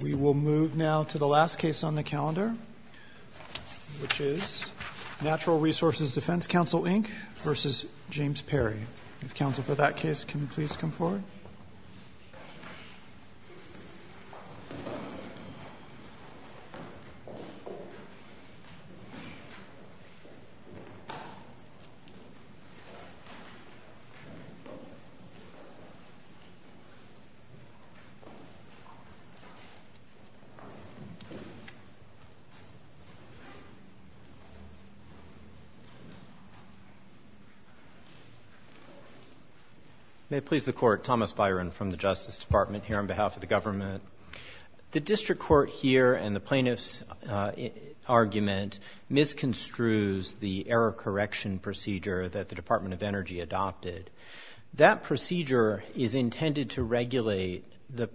We will move now to the last case on the calendar, which is Natural Resources Defense Counsel, Inc. v. James Perry. Counsel for that case, can you please come forward? May it please the Court, Thomas Byron from the Justice Department here on behalf of the government. The district court here and the plaintiff's argument misconstrues the error correction procedure that the Department of Energy adopted. That procedure is intended to regulate the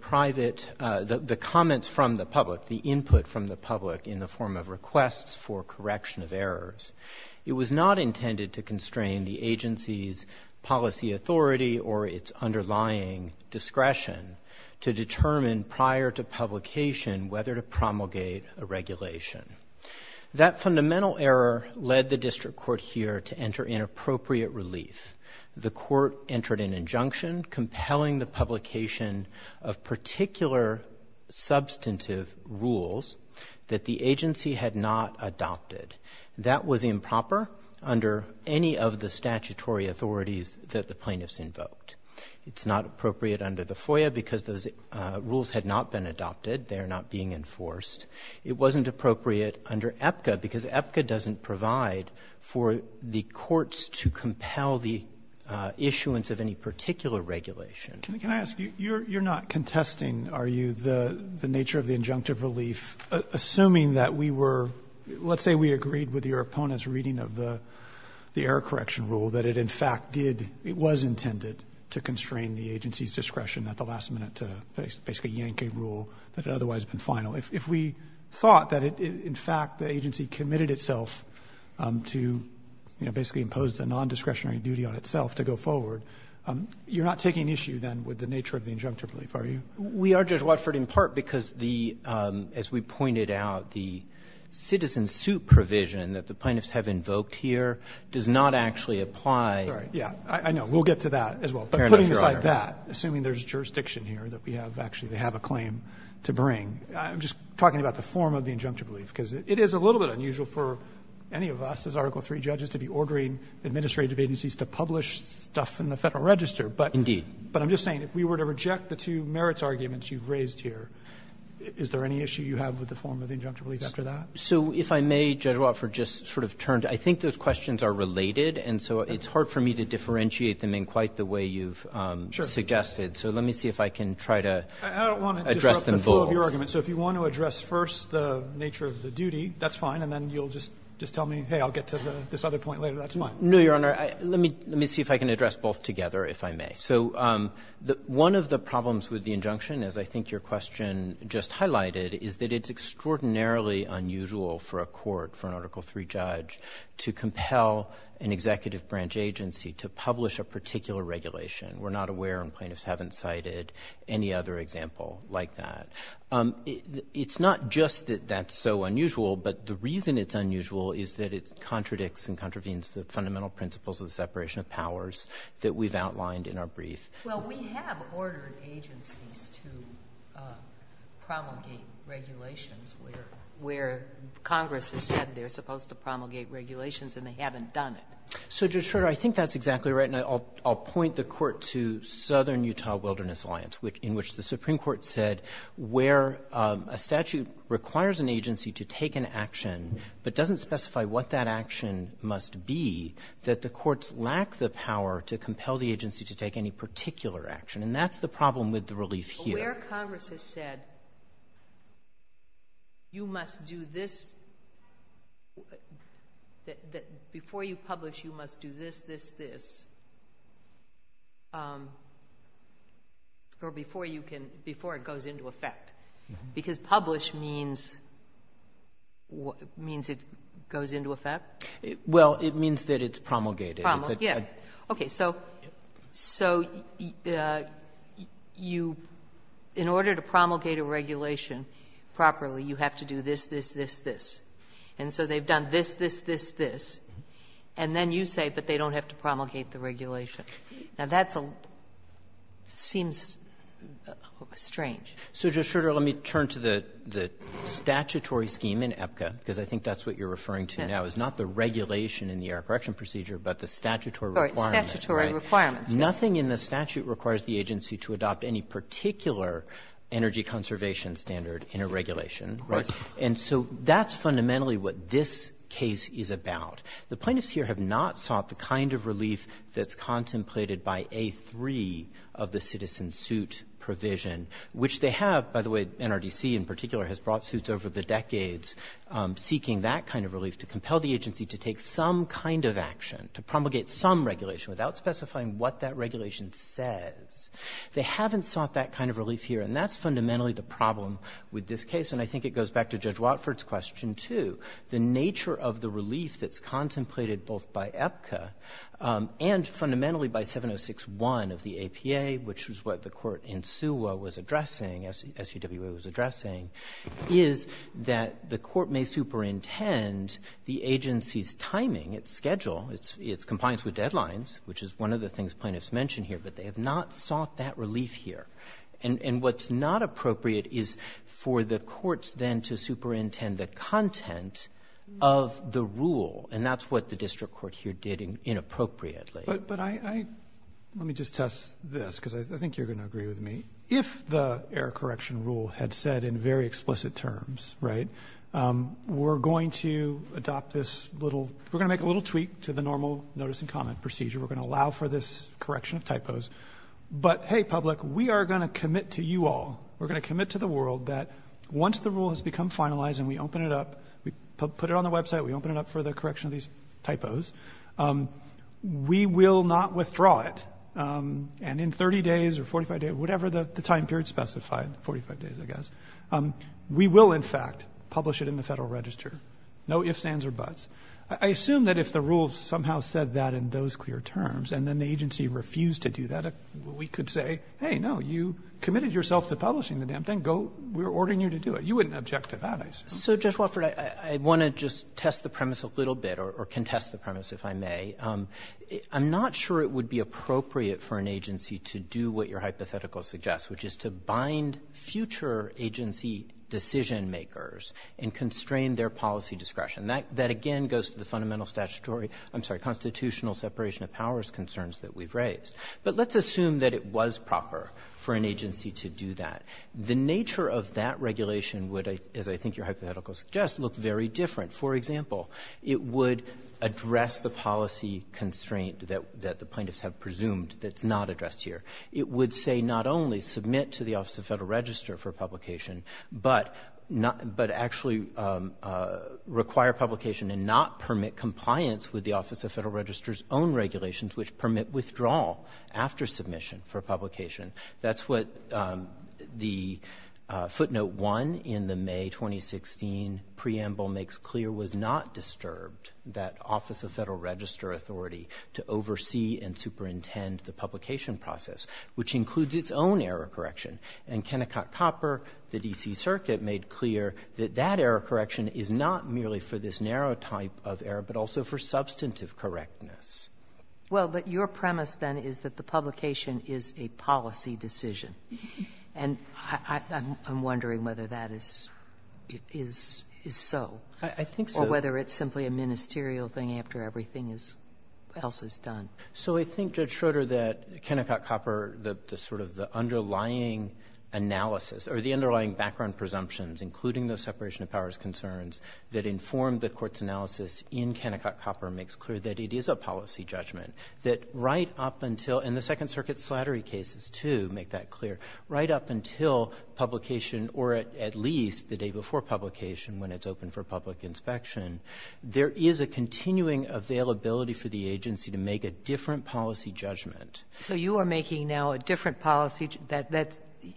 comments from the public, the input from the public in the form of requests for correction of errors. It was not intended to constrain the agency's policy authority or its underlying discretion to determine prior to publication whether to promulgate a regulation. That fundamental error led the district court here to enter in appropriate relief. The court entered an injunction compelling the publication of particular substantive rules that the agency had not adopted. That was improper under any of the statutory authorities that the plaintiffs invoked. It's not appropriate under the FOIA because those rules had not been adopted. They are not being enforced. It wasn't appropriate under APCA because APCA doesn't provide for the courts to compel the issuance of any particular regulation. Roberts, you're not contesting, are you, the nature of the injunctive relief? Assuming that we were, let's say we agreed with your opponent's reading of the error correction rule, that it in fact did, it was intended to constrain the agency's discretion at the last minute to basically yank a rule that had otherwise been final. If we thought that in fact the agency committed itself to basically impose a nondiscretionary duty on itself to go forward, you're not taking issue then with the nature of the injunctive relief, are you? We are, Judge Watford, in part because the, as we pointed out, the citizen suit provision that the plaintiffs have invoked here does not actually apply. Yeah, I know. We'll get to that as well. But putting aside that, assuming there's jurisdiction here that we have actually to have a claim to bring, I'm just talking about the form of the injunctive relief, because it is a little bit unusual for any of us as Article III judges to be ordering administrative agencies to publish stuff in the Federal Register. But I'm just saying if we were to reject the two merits arguments you've raised here, is there any issue you have with the form of injunctive relief after that? So if I may, Judge Watford, just sort of turn to you. I think those questions are related, and so it's hard for me to differentiate them in quite the way you've suggested. So let me see if I can try to address them both. I don't want to disrupt the flow of your argument. So if you want to address first the nature of the duty, that's fine. And then you'll just tell me, hey, I'll get to this other point later. That's fine. No, Your Honor. Let me see if I can address both together, if I may. So one of the problems with the injunction, as I think your question just highlighted, is that it's extraordinarily unusual for a court, for an Article III judge, to compel an executive branch agency to publish a particular regulation. We're not aware, and plaintiffs haven't cited any other example like that. It's not just that that's so unusual, but the reason it's unusual is that it contradicts and contravenes the fundamental principles of the separation of powers that we've outlined in our brief. Well, we have ordered agencies to promulgate regulations where Congress has said they're supposed to promulgate regulations, and they haven't done it. So, Judge Schroeder, I think that's exactly right. And I'll point the Court to Southern Utah Wilderness Alliance, in which the Supreme Court said where a statute requires an agency to take an action, but doesn't specify what that action must be, that the courts lack the power to compel the agency to take any particular action. And that's the problem with the relief here. But where Congress has said, before you publish, you must do this, this, this, or before it goes into effect. Because publish means it goes into effect? Well, it means that it's promulgated. Promulgated. Yeah. Okay. So you, in order to promulgate a regulation properly, you have to do this, this, this, this. And so they've done this, this, this, this. And then you say, but they don't have to promulgate the regulation. Now, that seems strange. So, Judge Schroeder, let me turn to the statutory scheme in APCA, because I think that's what you're referring to now, is not the regulation in the error correction procedure, but the statutory requirement. Sorry, statutory requirement. Nothing in the statute requires the agency to adopt any particular energy conservation standard in a regulation. Right. And so that's fundamentally what this case is about. The plaintiffs here have not sought the kind of relief that's contemplated by A3 of the citizen suit provision, which they have, by the way, NRDC in particular has brought suits over the decades seeking that kind of relief to compel the agency to take some kind of action, to promulgate some regulation, without specifying what that regulation says. They haven't sought that kind of relief here, and that's fundamentally the problem with this case. And I think it goes back to Judge Watford's question, too. The nature of the relief that's contemplated both by APCA and fundamentally by 706-1 of the APA, which was what the court in SUWA was addressing, SUWA was addressing, is that the court may superintend the agency's timing, its schedule, its compliance with deadlines, which is one of the things plaintiffs mention here, but they have not sought that relief here. And what's not appropriate is for the courts then to superintend the content of the rule, and that's what the district court here did inappropriately. But I — let me just test this, because I think you're going to agree with me. If the error correction rule had said in very explicit terms, right, we're going to adopt this little — we're going to make a little tweak to the normal notice and comment procedure. We're going to allow for this correction of typos. But, hey, public, we are going to commit to you all, we're going to commit to the world that once the rule has become finalized and we open it up, we put it on the website, we open it up for the correction of these typos, we will not withdraw it. And in 30 days or 45 days, whatever the time period specified, 45 days, I guess, we will, in fact, publish it in the Federal Register. No ifs, ands, or buts. I assume that if the rule somehow said that in those clear terms and then the agency refused to do that, we could say, hey, no, you committed yourself to publishing the damn thing. Go — we're ordering you to do it. You wouldn't object to that, I assume. So, Judge Wofford, I want to just test the premise a little bit, or contest the premise, if I may. I'm not sure it would be appropriate for an agency to do what your hypothetical suggests, which is to bind future agency decision-makers and constrain their policy discretion. That, again, goes to the fundamental statutory — I'm sorry, constitutional separation of powers concerns that we've raised. But let's assume that it was proper for an agency to do that. The nature of that regulation would, as I think your hypothetical suggests, look very different. For example, it would address the policy constraint that the plaintiffs have presumed that's not addressed here. It would say not only submit to the Office of Federal Register for publication, but actually require publication and not permit compliance with the Office of Federal Register's own regulations, which permit withdrawal after submission for publication. That's what the footnote 1 in the May 2016 preamble makes clear was not disturbed, that Office of Federal Register authority to oversee and superintend the publication process, which includes its own error correction. And Kennecott Copper, the D.C. Circuit, made clear that that error correction is not merely for this narrow type of error, but also for substantive correctness. Well, but your premise then is that the publication is a policy decision. And I'm wondering whether that is so. I think so. Or whether it's simply a ministerial thing after everything else is done. So I think, Judge Schroeder, that Kennecott Copper, the sort of the underlying analysis or the underlying background presumptions, including those separation of powers concerns that inform the Court's analysis in Kennecott Copper makes clear that it is a policy judgment. That right up until, and the Second Circuit's slattery cases, too, make that clear, right up until publication, or at least the day before publication when it's open for public inspection, there is a continuing availability for the agency to make a different policy judgment. So you are making now a different policy, that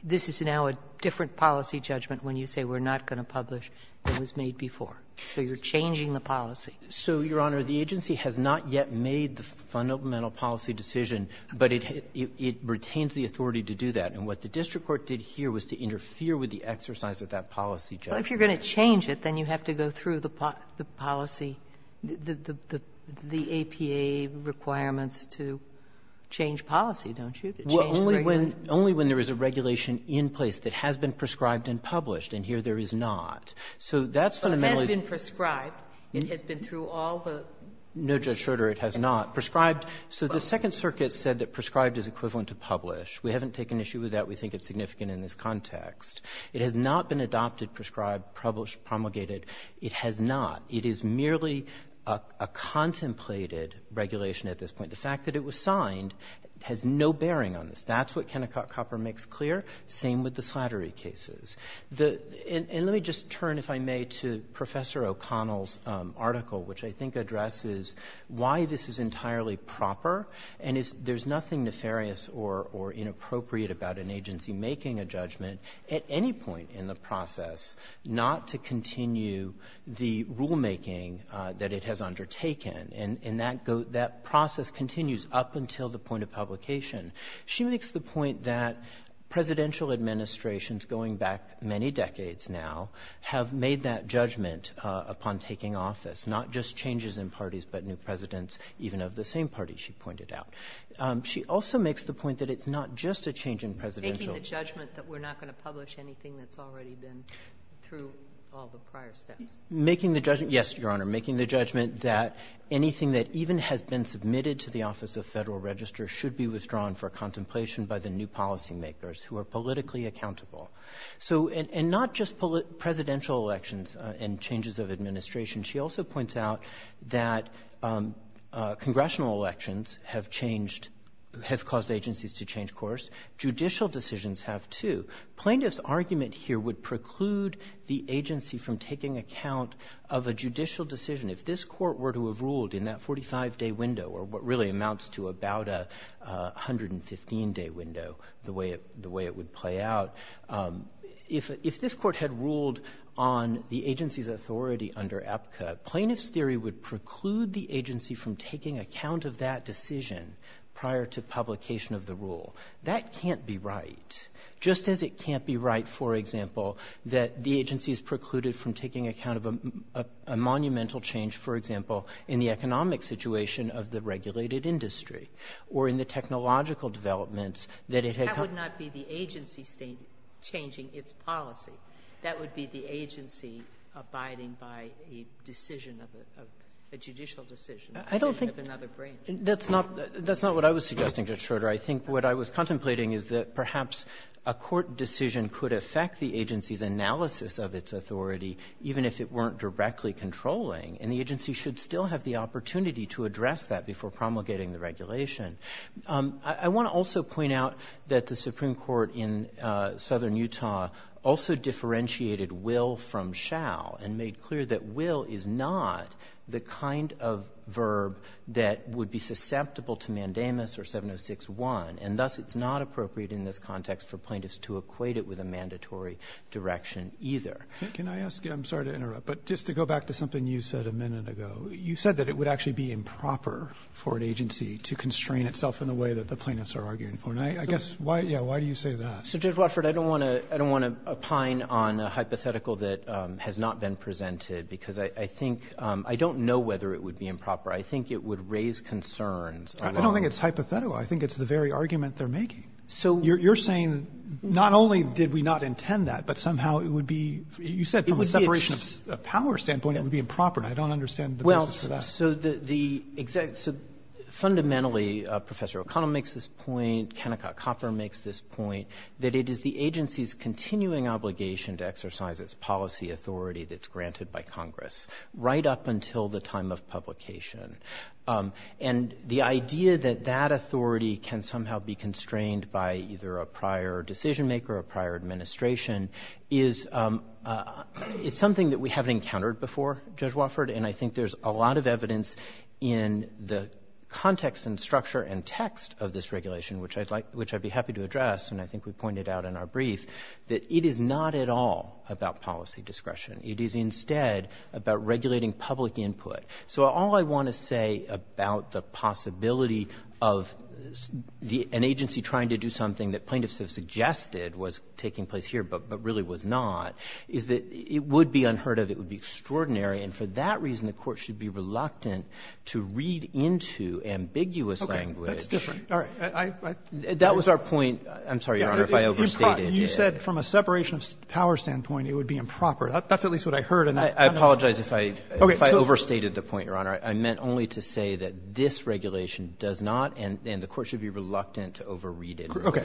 this is now a different policy judgment when you say we're not going to publish what was made before. So you're changing the policy. So, Your Honor, the agency has not yet made the fundamental policy decision, but it retains the authority to do that. And what the district court did here was to interfere with the exercise of that policy judgment. Well, if you're going to change it, then you have to go through the policy, the APA requirements to change policy, don't you? Well, only when there is a regulation in place that has been prescribed and published, and here there is not. So that's fundamentally— But it has been prescribed. It has been through all the— No, Judge Schroeder, it has not. Prescribed—so the Second Circuit said that prescribed is equivalent to published. We haven't taken issue with that. We think it's significant in this context. It has not been adopted, prescribed, published, promulgated. It has not. It is merely a contemplated regulation at this point. The fact that it was signed has no bearing on this. That's what Kennecott Copper makes clear. Same with the Slattery cases. And let me just turn, if I may, to Professor O'Connell's article, which I think addresses why this is entirely proper, and there's nothing nefarious or inappropriate about an agency making a judgment at any point in the process not to continue the rulemaking that it has undertaken. And that process continues up until the point of publication. She makes the point that presidential administrations going back many decades now have made that judgment upon taking office, not just changes in parties but new presidents even of the same party, she pointed out. She also makes the point that it's not just a change in presidential— Making the judgment that we're not going to publish anything that's already been through Making the judgment—yes, Your Honor. Making the judgment that anything that even has been submitted to the Office of Federal Registers should be withdrawn for contemplation by the new policymakers who are politically accountable. So—and not just presidential elections and changes of administration. She also points out that congressional elections have changed—have caused agencies to change course. Judicial decisions have, too. Plaintiff's argument here would preclude the agency from taking account of a judicial decision. If this court were to have ruled in that 45-day window or what really amounts to about a 115-day window, the way it would play out, if this court had ruled on the agency's authority under APCA, plaintiff's theory would preclude the agency from taking account of that decision prior to publication of the rule. That can't be right. Just as it can't be right, for example, that the agency is precluded from taking account of a monumental change, for example, in the economic situation of the regulated industry or in the technological developments that it had— That would not be the agency changing its policy. That would be the agency abiding by a decision of a—a judicial decision, a decision of another branch. I don't think—that's not—that's not what I was suggesting, Judge Schroeder. I think what I was contemplating is that perhaps a court decision could affect the agency's analysis of its authority, even if it weren't directly controlling. And the agency should still have the opportunity to address that before promulgating the regulation. I—I want to also point out that the Supreme Court in Southern Utah also differentiated will from shall and made clear that will is not the kind of verb that would be susceptible to mandamus or 706-1. And thus, it's not appropriate in this context for plaintiffs to equate it with a mandatory direction either. Can I ask you—I'm sorry to interrupt, but just to go back to something you said a minute ago. You said that it would actually be improper for an agency to constrain itself in the way that the plaintiffs are arguing for. And I—I guess why—yeah, why do you say that? So, Judge Watford, I don't want to—I don't want to pine on a hypothetical that has not been presented because I—I think—I don't know whether it would be improper. I think it would raise concerns. I don't think it's hypothetical. I think it's the very argument they're making. So— You're—you're saying not only did we not intend that, but somehow it would be—you said from a separation of power standpoint, it would be improper. I don't understand the basis for that. Well, so the—the exact—so fundamentally, Professor O'Connell makes this point. Kennecott Copper makes this point, that it is the agency's continuing obligation to exercise its policy authority that's granted by Congress right up until the time of publication. And the idea that that authority can somehow be constrained by either a prior decision maker or a prior administration is—is something that we haven't encountered before, Judge Watford. And I think there's a lot of evidence in the context and structure and text of this regulation, which I'd like—which I'd be happy to address, and I think we pointed out in our brief, that it is not at all about policy discretion. It is instead about regulating public input. So all I want to say about the possibility of the — an agency trying to do something that plaintiffs have suggested was taking place here, but really was not, is that it would be unheard of, it would be extraordinary, and for that reason, the Court should be reluctant to read into ambiguous language— Okay. That's different. All right. I— That was our point. I'm sorry, Your Honor, if I overstated it. You said from a separation of power standpoint, it would be improper. That's at least what I heard in that— I apologize if I— If I overstated the point, Your Honor. I meant only to say that this regulation does not, and the Court should be reluctant to overread it— Okay.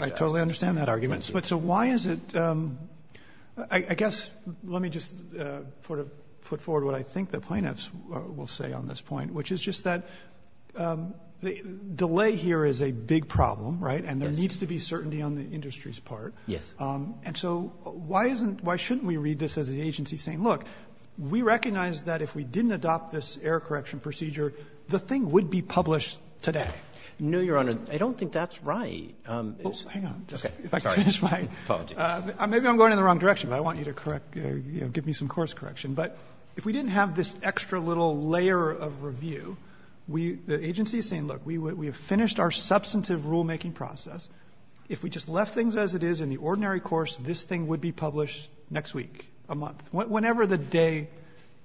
I totally understand that argument. But so why is it—I guess, let me just sort of put forward what I think the plaintiffs will say on this point, which is just that delay here is a big problem, right? And there needs to be certainty on the industry's part. Yes. And so why isn't—why shouldn't we read this as the agency saying, look, we recognize that if we didn't adopt this error correction procedure, the thing would be published today? No, Your Honor. I don't think that's right. Well, hang on. Okay. Sorry. If I could finish my— Apologies. Maybe I'm going in the wrong direction, but I want you to correct, you know, give me some course correction. But if we didn't have this extra little layer of review, we—the agency is saying, look, we have finished our substantive rulemaking process. If we just left things as it is in the ordinary course, this thing would be published next week, a month, whenever the day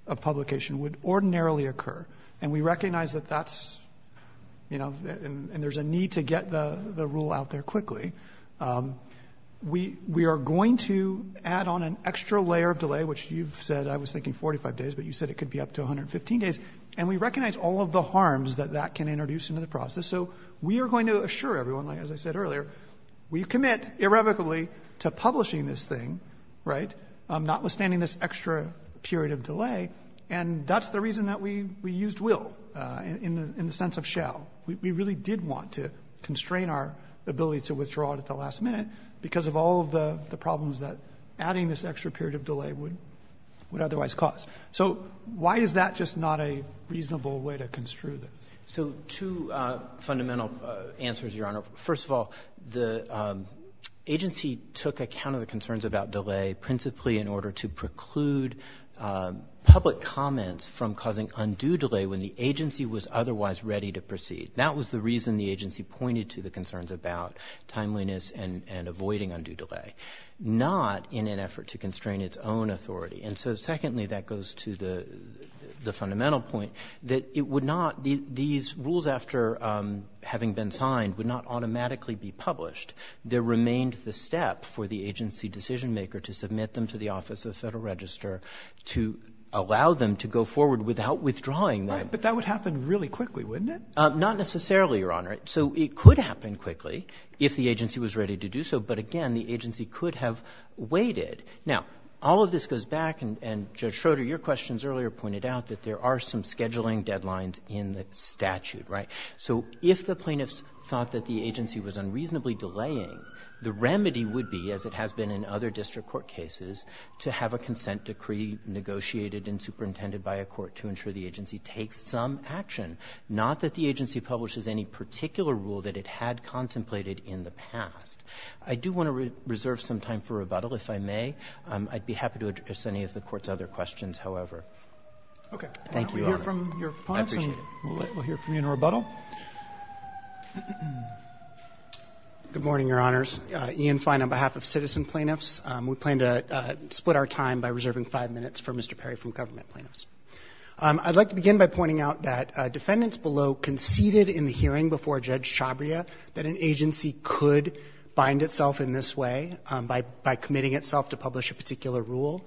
of publication would ordinarily occur. And we recognize that that's, you know, and there's a need to get the rule out there quickly. We are going to add on an extra layer of delay, which you've said—I was thinking 45 days, but you said it could be up to 115 days. And we recognize all of the harms that that can introduce into the process. So we are going to assure everyone, as I said earlier, we commit irrevocably to publishing this thing, right, notwithstanding this extra period of delay. And that's the reason that we used will in the sense of shall. We really did want to constrain our ability to withdraw it at the last minute because of all of the problems that adding this extra period of delay would otherwise cause. So why is that just not a reasonable way to construe this? So two fundamental answers, Your Honor. First of all, the agency took account of the concerns about delay principally in order to preclude public comments from causing undue delay when the agency was otherwise ready to proceed. That was the reason the agency pointed to the concerns about timeliness and avoiding undue delay, not in an effort to constrain its own authority. And so secondly, that goes to the fundamental point that it would not, these rules after having been signed would not automatically be published. There remained the step for the agency decision maker to submit them to the Office of the Federal Register to allow them to go forward without withdrawing them. But that would happen really quickly, wouldn't it? Not necessarily, Your Honor. So it could happen quickly if the agency was ready to do so. But again, the agency could have waited. Now, all of this goes back, and Judge Schroeder, your questions earlier pointed out that there are some scheduling deadlines in the statute, right? So if the plaintiffs thought that the agency was unreasonably delaying, the remedy would be, as it has been in other district court cases, to have a consent decree negotiated and superintended by a court to ensure the agency takes some action, not that the agency publishes any particular rule that it had contemplated in the past. I do want to reserve some time for rebuttal, if I may. I'd be happy to address any of the Court's other questions, however. Thank you, Your Honor. We'll hear from your clients, and we'll hear from you in rebuttal. Good morning, Your Honors. Ian Fine on behalf of citizen plaintiffs. We plan to split our time by reserving five minutes for Mr. Perry from government plaintiffs. I'd like to begin by pointing out that defendants below conceded in the hearing before Judge Chabria that an agency could bind itself in this way by committing itself to publish a particular rule.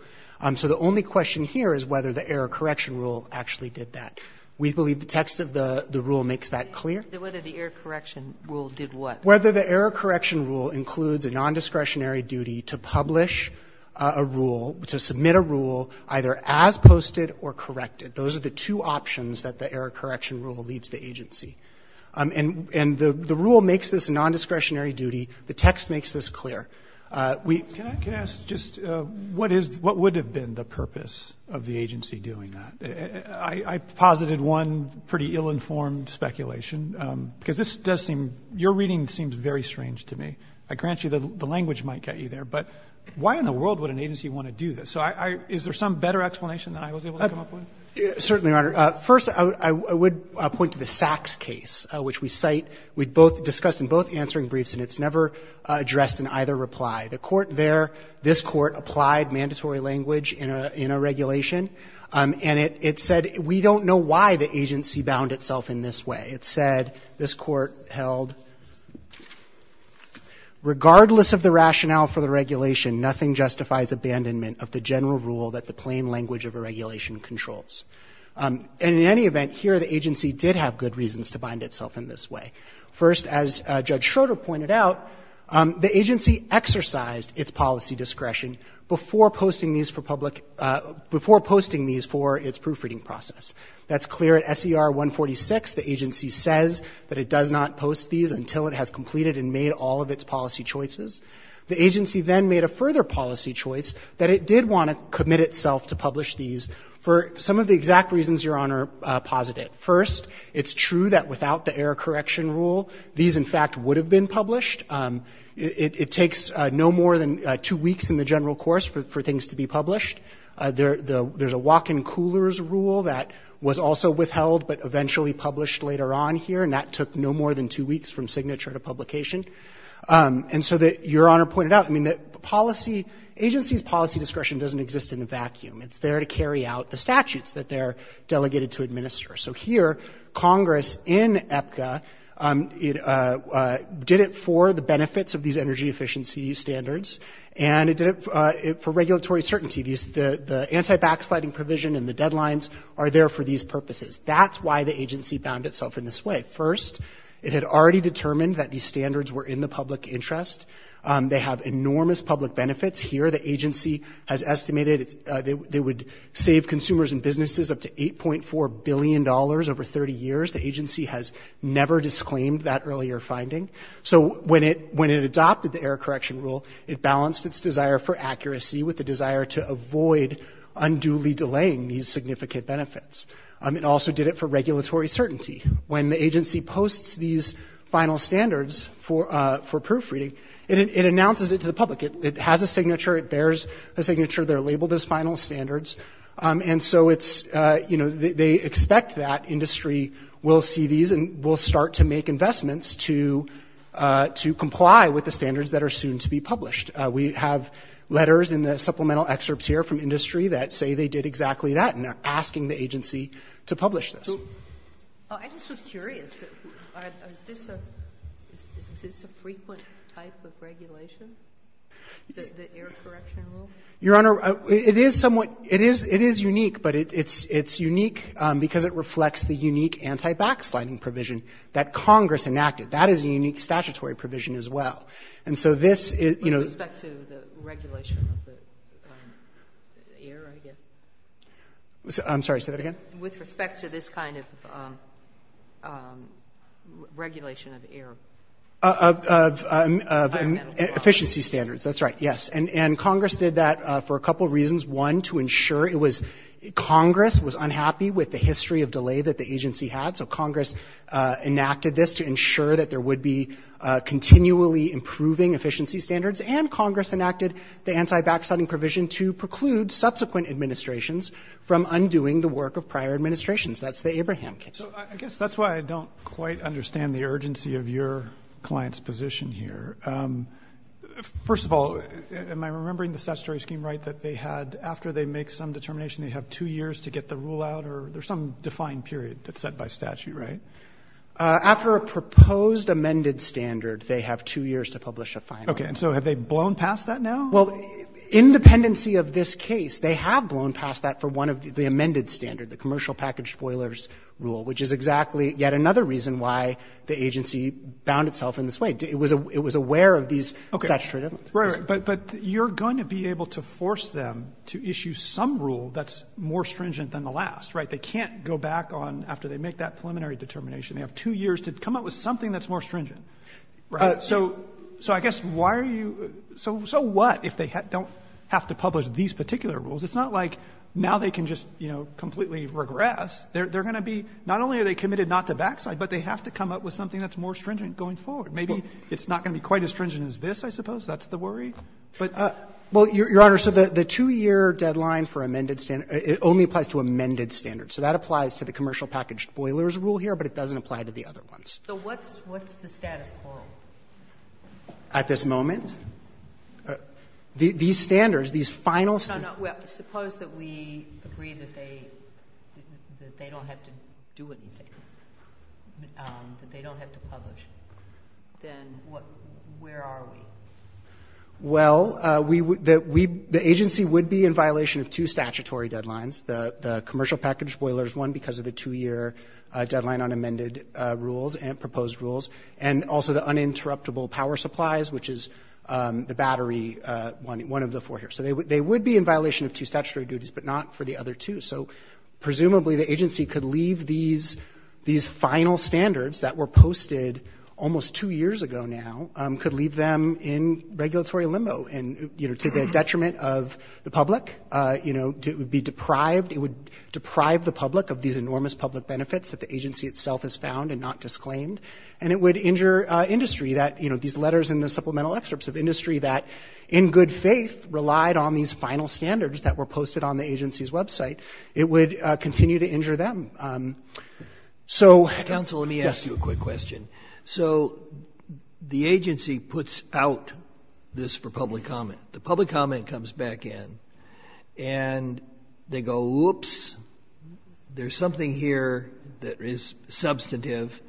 So the only question here is whether the error correction rule actually did that. We believe the text of the rule makes that clear. Whether the error correction rule did what? Whether the error correction rule includes a nondiscretionary duty to publish a rule, to submit a rule either as posted or corrected. Those are the two options that the error correction rule leaves the agency. And the rule makes this a nondiscretionary duty. The text makes this clear. Can I ask just what would have been the purpose of the agency doing that? I posited one pretty ill-informed speculation, because this does seem, your reading seems very strange to me. I grant you the language might get you there, but why in the world would an agency want to do this? So is there some better explanation than I was able to come up with? Certainly, Your Honor. First, I would point to the Sachs case, which we discussed in both answering briefs, and it's never addressed in either reply. The court there, this court, applied mandatory language in a regulation. And it said, we don't know why the agency bound itself in this way. It said, this court held, regardless of the rationale for the regulation, nothing justifies abandonment of the general rule that the plain language of a regulation controls. And in any event, here, the agency did have good reasons to bind itself in this way. First, as Judge Schroeder pointed out, the agency exercised its policy discretion before posting these for public – before posting these for its proofreading process. That's clear. At SER 146, the agency says that it does not post these until it has completed and made all of its policy choices. The agency then made a further policy choice that it did want to commit itself to publish these for some of the exact reasons Your Honor posited. First, it's true that without the error correction rule, these, in fact, would have been published. It takes no more than two weeks in the general course for things to be published. There's a walk-in coolers rule that was also withheld but eventually published later on here, and that took no more than two weeks from signature to publication. And so that Your Honor pointed out, I mean, the policy – agency's policy discretion doesn't exist in a vacuum. It's there to carry out the statutes that they're delegated to administer. So here, Congress, in EPCA, did it for the benefits of these energy efficiency standards, and it did it for regulatory certainty. The anti-backsliding provision and the deadlines are there for these purposes. That's why the agency bound itself in this way. First, it had already determined that these standards were in the public interest. They have enormous public benefits. Here, the agency has estimated they would save consumers and businesses up to $8.4 billion over 30 years. The agency has never disclaimed that earlier finding. So when it adopted the error correction rule, it balanced its desire for accuracy with the desire to avoid unduly delaying these significant benefits. It also did it for regulatory certainty. When the agency posts these final standards for proofreading, it announces it to the public. It has a signature. It bears a signature. They're labeled as final standards. And so it's, you know, they expect that industry will see these and will start to make investments to comply with the standards that are soon to be published. We have letters in the supplemental excerpts here from industry that say they did exactly that and are asking the agency to publish this. I just was curious. Is this a frequent type of regulation, the error correction rule? Your Honor, it is somewhat, it is unique, but it's unique because it reflects the unique anti-backsliding provision that Congress enacted. That is a unique statutory provision as well. And so this is, you know. With respect to the regulation of the error, I guess. I'm sorry. Say that again. With respect to this kind of regulation of error. Of efficiency standards. That's right, yes. And Congress did that for a couple reasons. One, to ensure it was, Congress was unhappy with the history of delay that the agency had. So Congress enacted this to ensure that there would be continually improving efficiency standards. And Congress enacted the anti-backsliding provision to preclude subsequent administrations from undoing the work of prior administrations. That's the Abraham case. So I guess that's why I don't quite understand the urgency of your client's position here. First of all, am I remembering the statutory scheme right that they had, after they make some determination, they have two years to get the rule out or there's some defined period that's set by statute, right? After a proposed amended standard, they have two years to publish a final. Okay. And so have they blown past that now? Well, in the pendency of this case, they have blown past that for one of the amended standard, the commercial package spoilers rule, which is exactly yet another reason why the agency bound itself in this way. It was aware of these statutory limits. Right, right. But you're going to be able to force them to issue some rule that's more stringent than the last, right? They can't go back on, after they make that preliminary determination, they have two years to come up with something that's more stringent, right? So I guess why are you – so what if they don't have to publish these particular rules? It's not like now they can just, you know, completely regress. They're going to be – not only are they committed not to backside, but they have to come up with something that's more stringent going forward. Maybe it's not going to be quite as stringent as this, I suppose. That's the worry. But – Well, Your Honor, so the two-year deadline for amended standard, it only applies to amended standards. So that applies to the commercial package spoilers rule here, but it doesn't apply to the other ones. So what's the status quo? At this moment? These standards, these final – No, no. Suppose that we agree that they don't have to do anything. That they don't have to publish. Then where are we? Well, the agency would be in violation of two statutory deadlines. The commercial package spoilers, one, because of the two-year deadline on amended rules and proposed rules, and also the uninterruptible power supplies, which is the battery, one of the four here. So they would be in violation of two statutory duties, but not for the other two. So presumably the agency could leave these final standards that were posted almost two years ago now, could leave them in regulatory limbo and, you know, to the detriment of the public. You know, it would be deprived – it would deprive the public of these And it would injure industry that, you know, these letters in the supplemental excerpts of industry that, in good faith, relied on these final standards that were posted on the agency's website. It would continue to injure them. So – Counsel, let me ask you a quick question. So the agency puts out this for public comment. The public comment comes back in, and they go, whoops, there's something here that is substantive.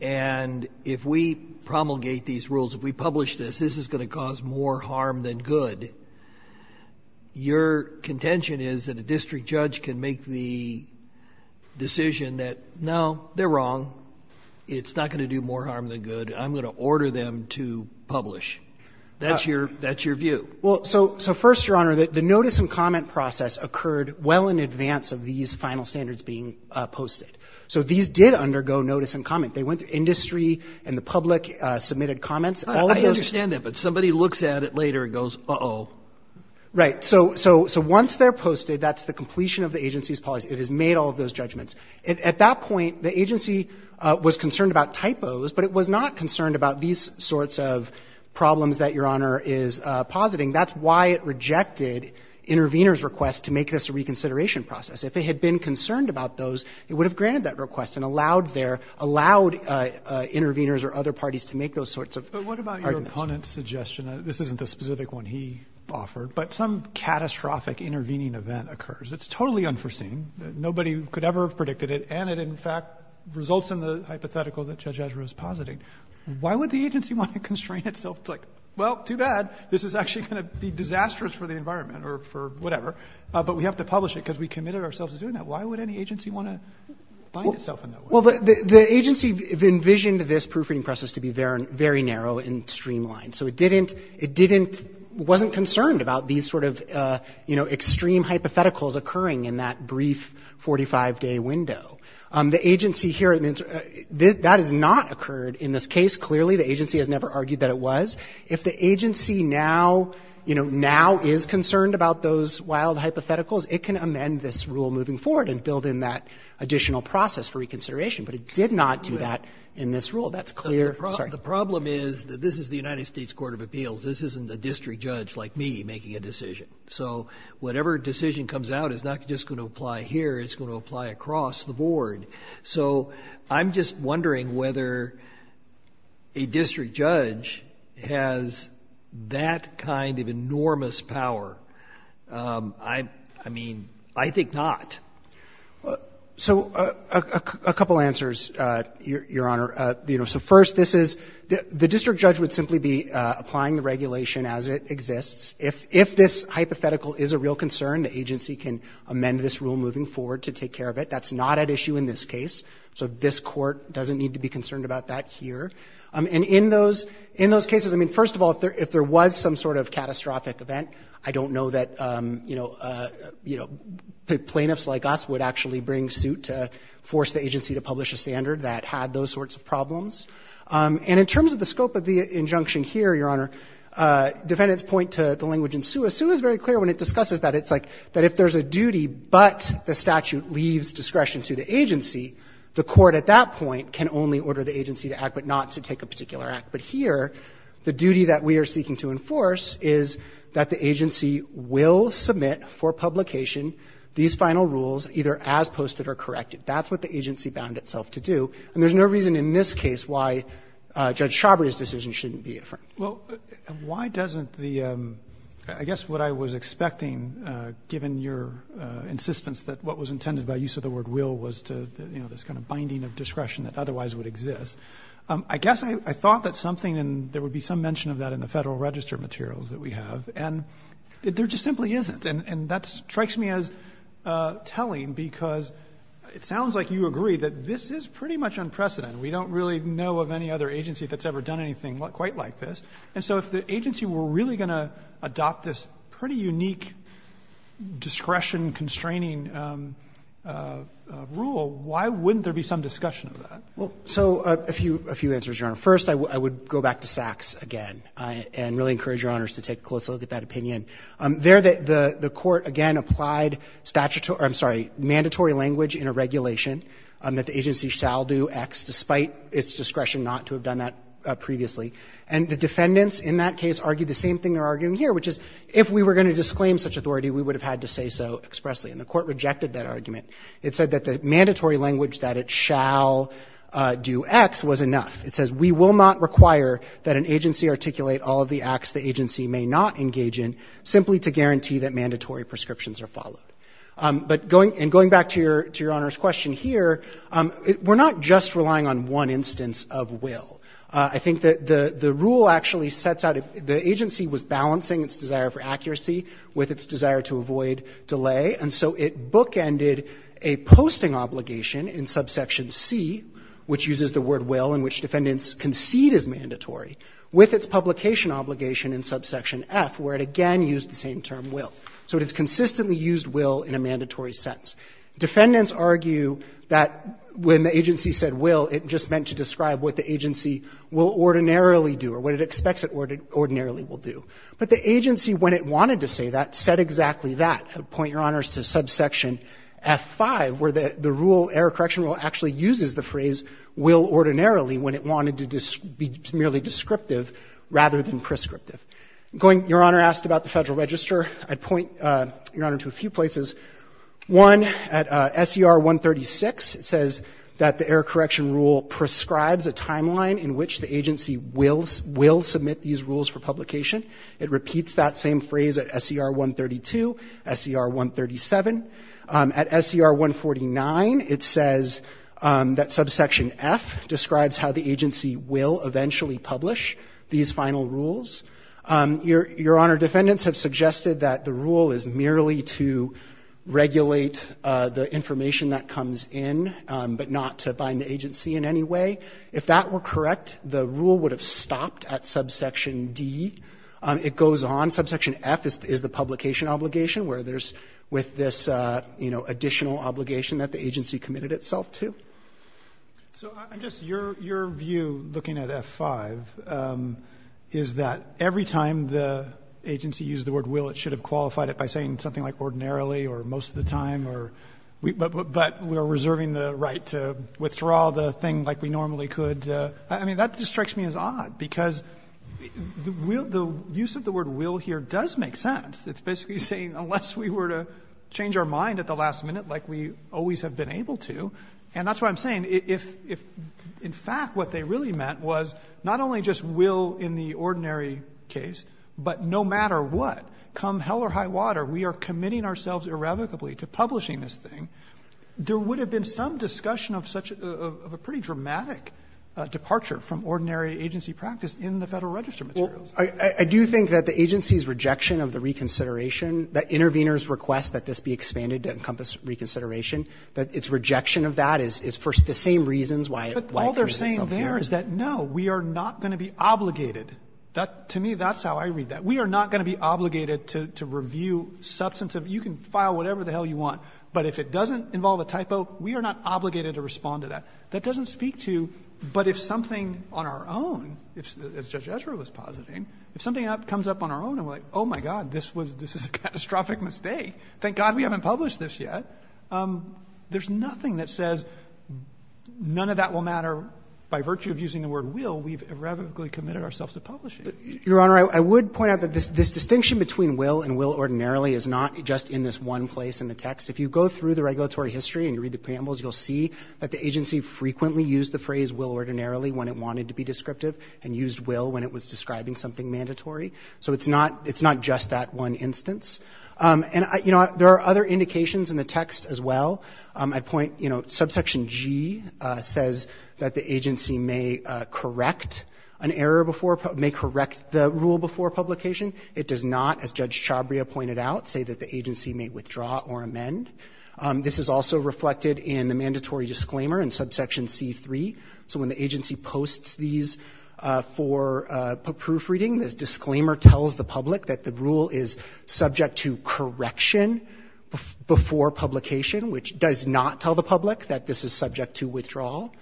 And if we promulgate these rules, if we publish this, this is going to cause more harm than good. Your contention is that a district judge can make the decision that, no, they're wrong, it's not going to do more harm than good, I'm going to order them to publish. That's your – that's your view. Well, so first, Your Honor, the notice and comment process occurred well in advance of these final standards being posted. So these did undergo notice and comment. They went to industry, and the public submitted comments. All of those – I understand that, but somebody looks at it later and goes, uh-oh. Right. So once they're posted, that's the completion of the agency's policy. It has made all of those judgments. At that point, the agency was concerned about typos, but it was not concerned about these sorts of problems that Your Honor is positing. That's why it rejected interveners' requests to make this a reconsideration process. If it had been concerned about those, it would have granted that request and allowed their – allowed interveners or other parties to make those sorts of arguments. But what about your opponent's suggestion? This isn't the specific one he offered, but some catastrophic intervening event occurs. It's totally unforeseen. Nobody could ever have predicted it, and it, in fact, results in the hypothetical that Judge Ezra is positing. Why would the agency want to constrain itself to, like, well, too bad. This is actually going to be disastrous for the environment or for whatever. But we have to publish it because we committed ourselves to doing that. Why would any agency want to bind itself in that way? Well, the agency envisioned this proofreading process to be very narrow and streamlined. So it didn't – it didn't – wasn't concerned about these sort of, you know, extreme hypotheticals occurring in that brief 45-day window. The agency here – that has not occurred in this case. Clearly, the agency has never argued that it was. If the agency now, you know, now is concerned about those wild hypotheticals, it can amend this rule moving forward and build in that additional process for reconsideration. But it did not do that in this rule. That's clear. Sorry. The problem is that this is the United States Court of Appeals. This isn't a district judge like me making a decision. So whatever decision comes out is not just going to apply here. It's going to apply across the board. So I'm just wondering whether a district judge has that kind of enormous power. I mean, I think not. So a couple answers, Your Honor. So first, this is – the district judge would simply be applying the regulation as it exists. If this hypothetical is a real concern, the agency can amend this rule moving forward to take care of it. That's not at issue in this case. So this Court doesn't need to be concerned about that here. And in those cases, I mean, first of all, if there was some sort of catastrophic event, I don't know that, you know, plaintiffs like us would actually bring suit to force the agency to publish a standard that had those sorts of problems. And in terms of the scope of the injunction here, Your Honor, defendants point to the language in SUA. SUA is very clear when it discusses that. It's like that if there's a duty, but the statute leaves discretion to the agency, the court at that point can only order the agency to act, but not to take a particular act. But here, the duty that we are seeking to enforce is that the agency will submit for publication these final rules, either as posted or corrected. That's what the agency bound itself to do. And there's no reason in this case why Judge Chabry's decision shouldn't be affirmed. Well, and why doesn't the, I guess what I was expecting, given your insistence that what was intended by use of the word will was to, you know, this kind of binding of discretion that otherwise would exist. I guess I thought that something, and there would be some mention of that in the Federal Register materials that we have, and there just simply isn't. And that strikes me as telling because it sounds like you agree that this is pretty much unprecedented. We don't really know of any other agency that's ever done anything quite like this. And so if the agency were really going to adopt this pretty unique discretion constraining rule, why wouldn't there be some discussion of that? Well, so a few answers, Your Honor. First, I would go back to Sachs again and really encourage Your Honors to take a close look at that opinion. There, the court again applied statutory, I'm sorry, mandatory language in a regulation that the agency shall do X despite its discretion not to have done that previously. And the defendants in that case argued the same thing they're arguing here, which is if we were going to disclaim such authority, we would have had to say so expressly. And the court rejected that argument. It said that the mandatory language that it shall do X was enough. It says we will not require that an agency articulate all of the acts the agency may not engage in simply to guarantee that mandatory prescriptions are followed. And going back to Your Honor's question here, we're not just relying on one instance of will. I think that the rule actually sets out the agency was balancing its desire for accuracy with its desire to avoid delay. And so it bookended a posting obligation in subsection C, which uses the word will in which defendants concede is mandatory, with its publication obligation in subsection F, where it again used the same term, will. So it has consistently used will in a mandatory sense. Defendants argue that when the agency said will, it just meant to describe what the agency will ordinarily do or what it expects it ordinarily will do. But the agency, when it wanted to say that, said exactly that. To point Your Honors to subsection F5, where the rule, error correction rule, actually uses the phrase will ordinarily when it wanted to be merely descriptive rather than prescriptive. Your Honor asked about the Federal Register. I'd point Your Honor to a few places. One, at SER 136, it says that the error correction rule prescribes a timeline in which the agency will submit these rules for publication. It repeats that same phrase at SER 132, SER 137. At SER 149, it says that subsection F describes how the agency will eventually publish these final rules. Your Honor, defendants have suggested that the rule is merely to regulate the information that comes in, but not to bind the agency in any way. If that were correct, the rule would have stopped at subsection D. It goes on. Subsection F is the publication obligation where there's with this additional obligation that the agency committed itself to. So just your view looking at F5 is that every time the agency used the word will, it should have qualified it by saying something like ordinarily or most of the time, but we're reserving the right to withdraw the thing like we normally could. I mean, that just strikes me as odd because the use of the word will here does make sense. It's basically saying unless we were to change our mind at the last minute like we always have been able to, and that's what I'm saying. If in fact what they really meant was not only just will in the ordinary case, but no matter what, come hell or high water, we are committing ourselves irrevocably to publishing this thing, there would have been some discussion of such a pretty dramatic departure from ordinary agency practice in the Federal Register materials. Well, I do think that the agency's rejection of the reconsideration, that interveners request that this be expanded to encompass reconsideration, that its rejection of that is for the same reasons why it presents itself here. But all they're saying there is that no, we are not going to be obligated. To me, that's how I read that. We are not going to be obligated to review substantive. You can file whatever the hell you want, but if it doesn't involve a typo, we are not obligated to respond to that. That doesn't speak to, but if something on our own, as Judge Ezra was positing, if something comes up on our own and we're like, oh, my God, this is a catastrophic mistake. Thank God we haven't published this yet. There's nothing that says none of that will matter by virtue of using the word will. We've irrevocably committed ourselves to publishing. Your Honor, I would point out that this distinction between will and will ordinarily is not just in this one place in the text. If you go through the regulatory history and you read the preambles, you'll see that the agency frequently used the phrase will ordinarily when it wanted to be descriptive and used will when it was describing something mandatory. It's not just that one instance. There are other indications in the text as well. Subsection G says that the agency may correct the rule before publication. It does not, as Judge Chabria pointed out, say that the agency may withdraw or amend. This is also reflected in the mandatory disclaimer in subsection C3. So when the agency posts these for proofreading, this disclaimer tells the public that the rule is subject to correction before publication, which does not tell the public that this is subject to withdrawal.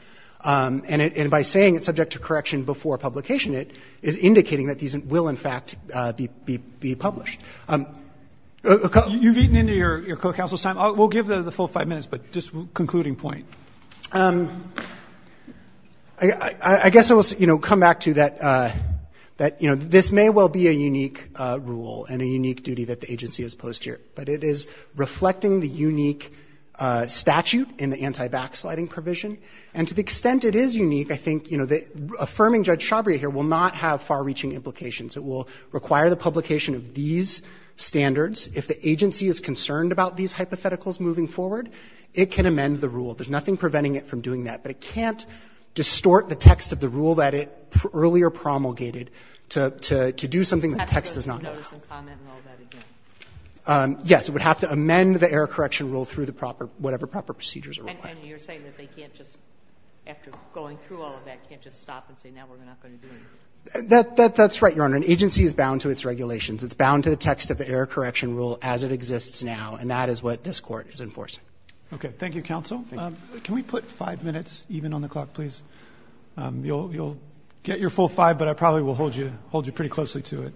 And by saying it's subject to correction before publication, it is indicating that these will, in fact, be published. You've eaten into your co-counsel's time. We'll give the full five minutes, but just concluding point. I guess I will come back to that this may well be a unique rule and a unique duty that the agency has posed here, but it is reflecting the unique statute in the anti-backsliding provision. And to the extent it is unique, I think affirming Judge Chabria here will not have far-reaching implications. It will require the publication of these standards. If the agency is concerned about these hypotheticals moving forward, it can amend the rule. There's nothing preventing it from doing that. But it can't distort the text of the rule that it earlier promulgated to do something that the text does not have. Yes, it would have to amend the error correction rule through the proper, whatever proper procedures are in place. That's right, Your Honor. An agency is bound to its regulations. It's bound to the text of the error correction rule as it exists now, and that is what this Court is enforcing. Okay. Thank you, Counsel. Thank you. Can we put five minutes even on the clock, please? You'll get your full five, but I probably will hold you pretty closely to it.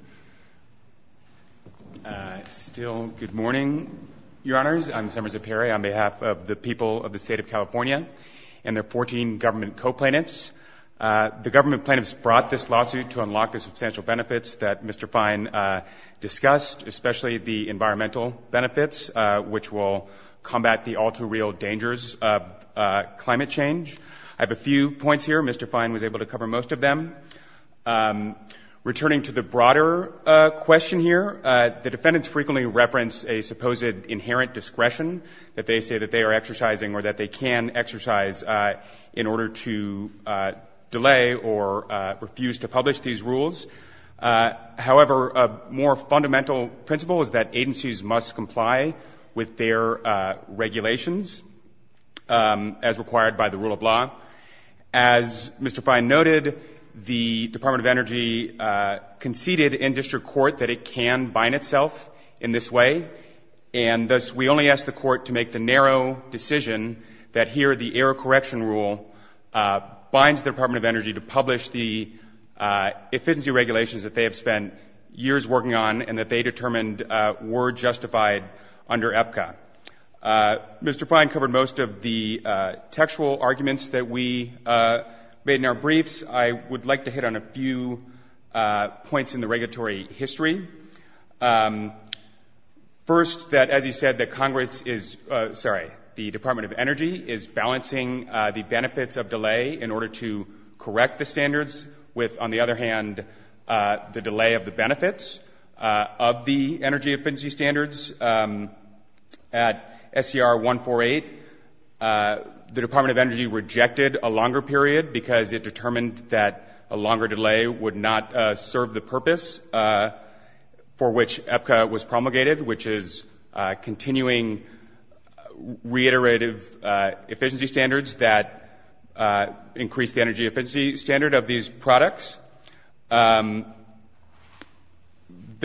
Still, good morning, Your Honors. I'm Semer Zeperi on behalf of the people of the State of California and their 14 government co-plaintiffs. The government plaintiffs brought this lawsuit to unlock the substantial benefits that Mr. I have a few points here. Mr. Fine was able to cover most of them. Returning to the broader question here, the defendants frequently reference a supposed inherent discretion that they say that they are exercising or that they can exercise in order to delay or refuse to publish these rules. However, a more fundamental principle is that agencies must comply with their regulations as required by the rule of law. As Mr. Fine noted, the Department of Energy conceded in district court that it can bind itself in this way, and thus we only ask the Court to make the narrow decision that here the error correction rule binds the Department of Energy to publish the efficiency regulations that they have spent years working on and that they determined were justified under APCA. Mr. Fine covered most of the textual arguments that we made in our briefs. I would like to hit on a few points in the regulatory history. First, as you said, the Department of Energy is balancing the benefits of delay in order to correct the standards with, on the other hand, the delay of the benefits of the energy efficiency standards. At SCR 148, the Department of Energy rejected a longer period because it determined that a longer delay would not serve the purpose for which APCA was promulgated, which is continuing reiterative efficiency standards that increase the energy efficiency standard of these products. The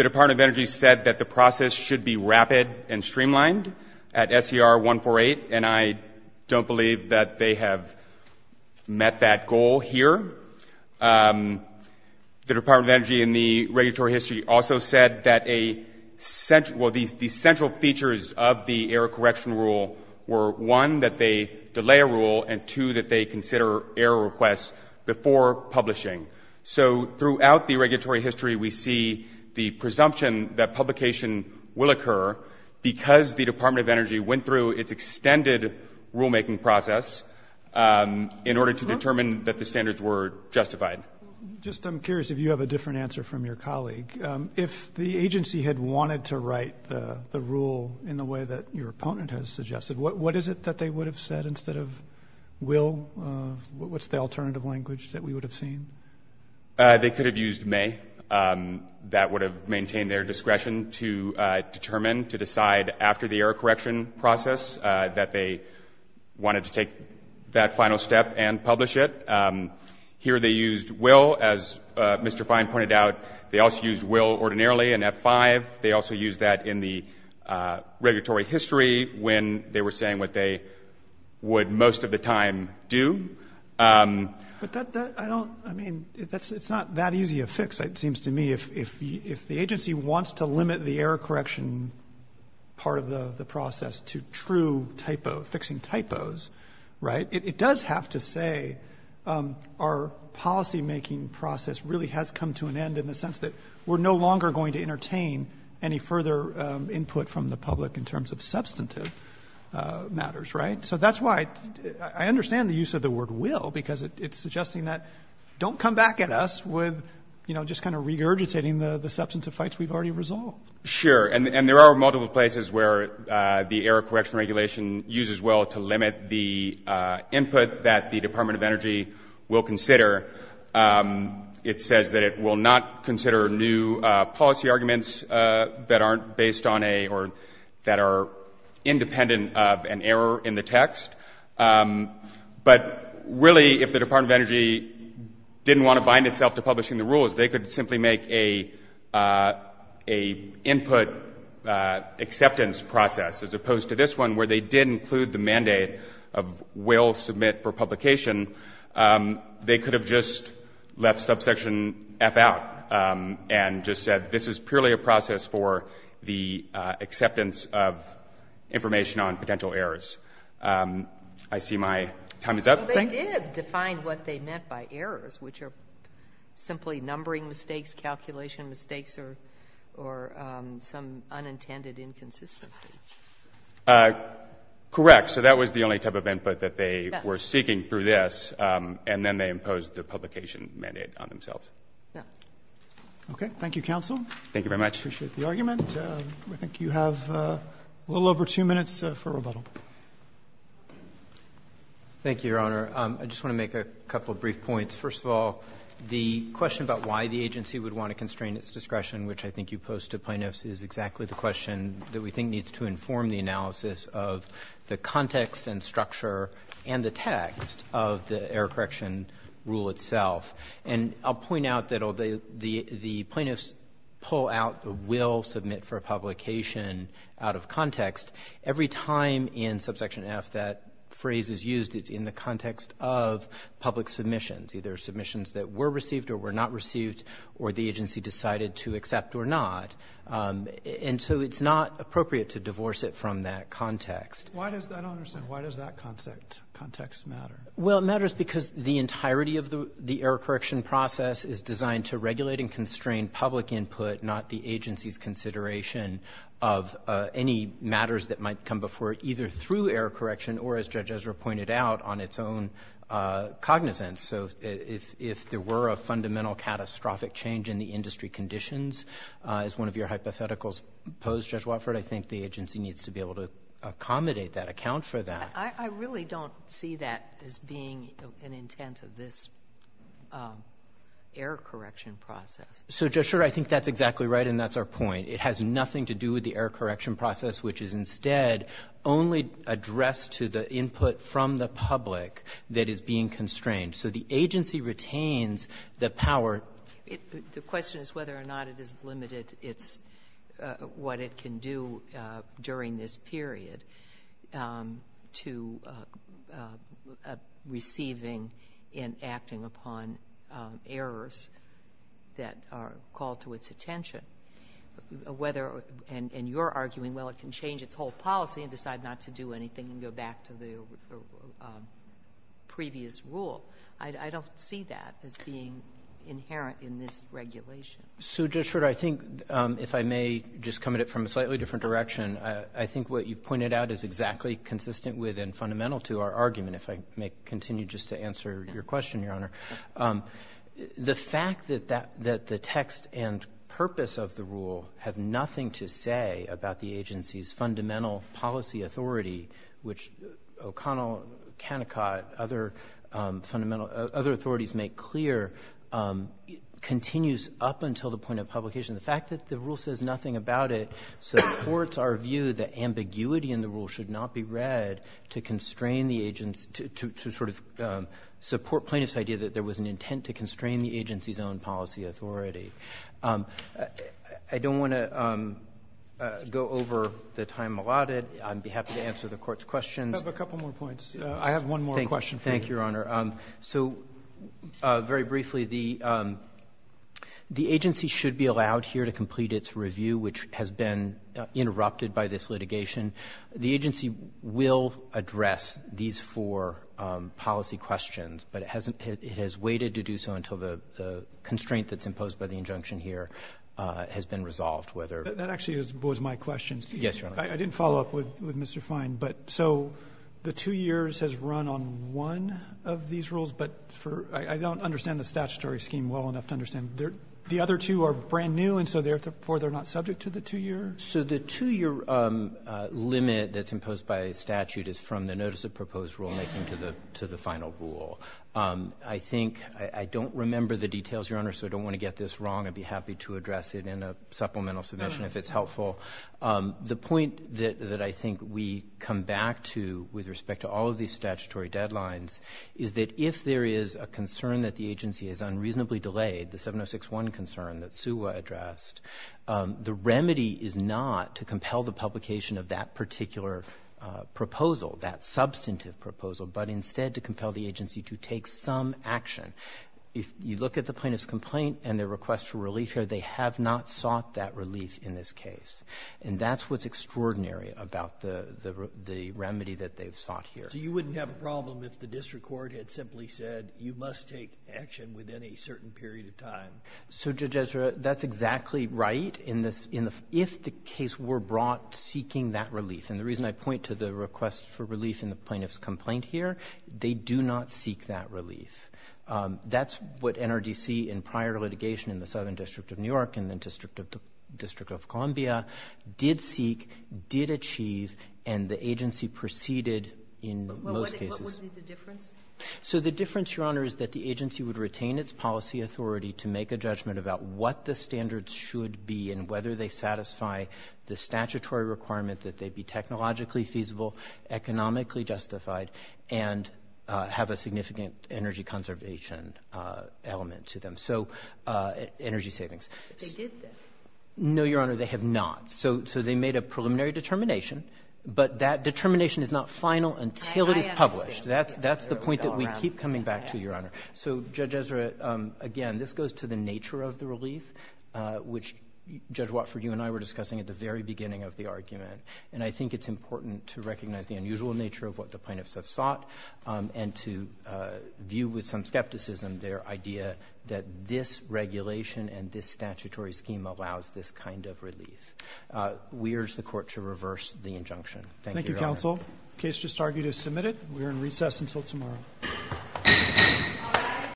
Department of Energy said that the process should be rapid and streamlined at SCR 148, and I don't believe that they have met that goal here. The Department of Energy in the regulatory history also said that the central features of the error correction rule were, one, that they delay a rule, and, two, that they consider error requests before publishing. So throughout the regulatory history, we see the presumption that publication will occur because the Department of Energy went through its extended rulemaking process in order to determine that the standards were justified. Just I'm curious if you have a different answer from your colleague. If the agency had wanted to write the rule in the way that your opponent has suggested, what is it that they would have said instead of will? What's the alternative language that we would have seen? They could have used may. That would have maintained their discretion to determine, to decide after the error correction process that they wanted to take that final step and publish it. Here they used will. As Mr. Fine pointed out, they also used will ordinarily in F5. They also used that in the regulatory history when they were saying what they would most of the time do. But I don't, I mean, it's not that easy a fix, it seems to me. If the agency wants to limit the error correction part of the process to true typos, fixing typos, right, it does have to say our policymaking process really has come to an end in the sense that we're no longer going to entertain any further input from the public in terms of substantive matters, right? So that's why I understand the use of the word will because it's suggesting that don't come back at us with, you know, just kind of regurgitating the substantive fights we've already resolved. Sure, and there are multiple places where the error correction regulation uses will to limit the input that the Department of Energy will consider. It says that it will not consider new policy arguments that aren't based on a, or that are independent of an error in the text. But really if the Department of Energy didn't want to bind itself to publishing the rules, they could simply make a input acceptance process as opposed to this one where they did include the mandate of will submit for publication. They could have just left subsection F out and just said this is purely a process for the acceptance of information on potential errors. I see my time is up. They did define what they meant by errors, which are simply numbering mistakes, calculation mistakes, or some unintended inconsistency. Correct. So that was the only type of input that they were seeking through this, and then they imposed the publication mandate on themselves. Okay. Thank you, counsel. Thank you very much. Appreciate the argument. I think you have a little over two minutes for rebuttal. Thank you, Your Honor. I just want to make a couple of brief points. First of all, the question about why the agency would want to constrain its discretion, which I think you posed to plaintiffs, is exactly the question that we think needs to inform the analysis of the context and structure and the text of the error correction rule itself. And I'll point out that the plaintiffs pull out the will submit for publication out of context. Every time in subsection F that phrase is used, it's in the context of public submissions, either submissions that were received or were not received or the agency decided to accept or not. And so it's not appropriate to divorce it from that context. I don't understand. Why does that context matter? Well, it matters because the entirety of the error correction process is designed to regulate and constrain public input, not the agency's consideration of any matters that might come before it, either through error correction or, as Judge Ezra pointed out, on its own cognizance. So if there were a fundamental catastrophic change in the industry conditions, as one of your hypotheticals posed, Judge Watford, I think the agency needs to be able to accommodate that, account for that. I really don't see that as being an intent of this error correction process. So, Judge Schur, I think that's exactly right, and that's our point. It has nothing to do with the error correction process, which is instead only addressed to the input from the public that is being constrained. So the agency retains the power. The question is whether or not it is limited, what it can do during this period, to receiving and acting upon errors that are called to its attention. And you're arguing, well, it can change its whole policy and decide not to do anything and go back to the previous rule. I don't see that as being inherent in this regulation. So, Judge Schur, I think, if I may just come at it from a slightly different direction, I think what you pointed out is exactly consistent with and fundamental to our argument, if I may continue just to answer your question, Your Honor. The fact that the text and purpose of the rule have nothing to say about the agency's fundamental policy authority, which O'Connell, Canicot, other authorities make clear, continues up until the point of publication. The fact that the rule says nothing about it supports our view that ambiguity in the rule should not be read to sort of support plaintiffs' idea that there was an intent to constrain the agency's own policy authority. I don't want to go over the time allotted. I'd be happy to answer the Court's questions. I have a couple more points. I have one more question for you. Thank you, Your Honor. So, very briefly, the agency should be allowed here to complete its review, which has been interrupted by this litigation. The agency will address these four policy questions, but it has waited to do so until the constraint that's imposed by the injunction here has been resolved. That actually was my question. Yes, Your Honor. I didn't follow up with Mr. Fine, but so the two years has run on one of these rules, but I don't understand the statutory scheme well enough to understand. The other two are brand new, and so therefore they're not subject to the two years? So the two-year limit that's imposed by statute is from the notice of proposed rulemaking to the final rule. I think I don't remember the details, Your Honor, so I don't want to get this wrong. I'd be happy to address it in a supplemental submission if it's helpful. The point that I think we come back to with respect to all of these statutory deadlines is that if there is a concern that the agency has unreasonably delayed, the 706-1 concern that Suha addressed, the remedy is not to compel the publication of that particular proposal, that substantive proposal, but instead to compel the agency to take some action. If you look at the plaintiff's complaint and their request for relief here, they have not sought that relief in this case, and that's what's extraordinary about the remedy that they've sought here. So you wouldn't have a problem if the district court had simply said, you must take action within a certain period of time? So, Judge Ezra, that's exactly right. If the case were brought seeking that relief, and the reason I point to the request for relief in the plaintiff's complaint here, they do not seek that relief. That's what NRDC in prior litigation in the Southern District of New York and the District of Columbia did seek, did achieve, and the agency proceeded in most cases. What would be the difference? So the difference, Your Honor, is that the agency would retain its policy authority to make a judgment about what the standards should be and whether they satisfy the statutory requirement that they be technologically feasible, economically justified, and have a significant energy conservation element to them, so energy savings. They did that? No, Your Honor, they have not. So they made a preliminary determination, but that determination is not final until it is published. I understand. That's the point that we keep coming back to, Your Honor. So, Judge Ezra, again, this goes to the nature of the relief, which Judge Watford, you and I were discussing at the very beginning of the argument, and I think it's important to recognize the unusual nature of what the plaintiffs have sought and to view with some skepticism their idea that this regulation and this statutory scheme allows this kind of relief. We urge the Court to reverse the injunction. Thank you, Your Honor. Thank you, counsel. The case just argued is submitted. We are in recess until tomorrow.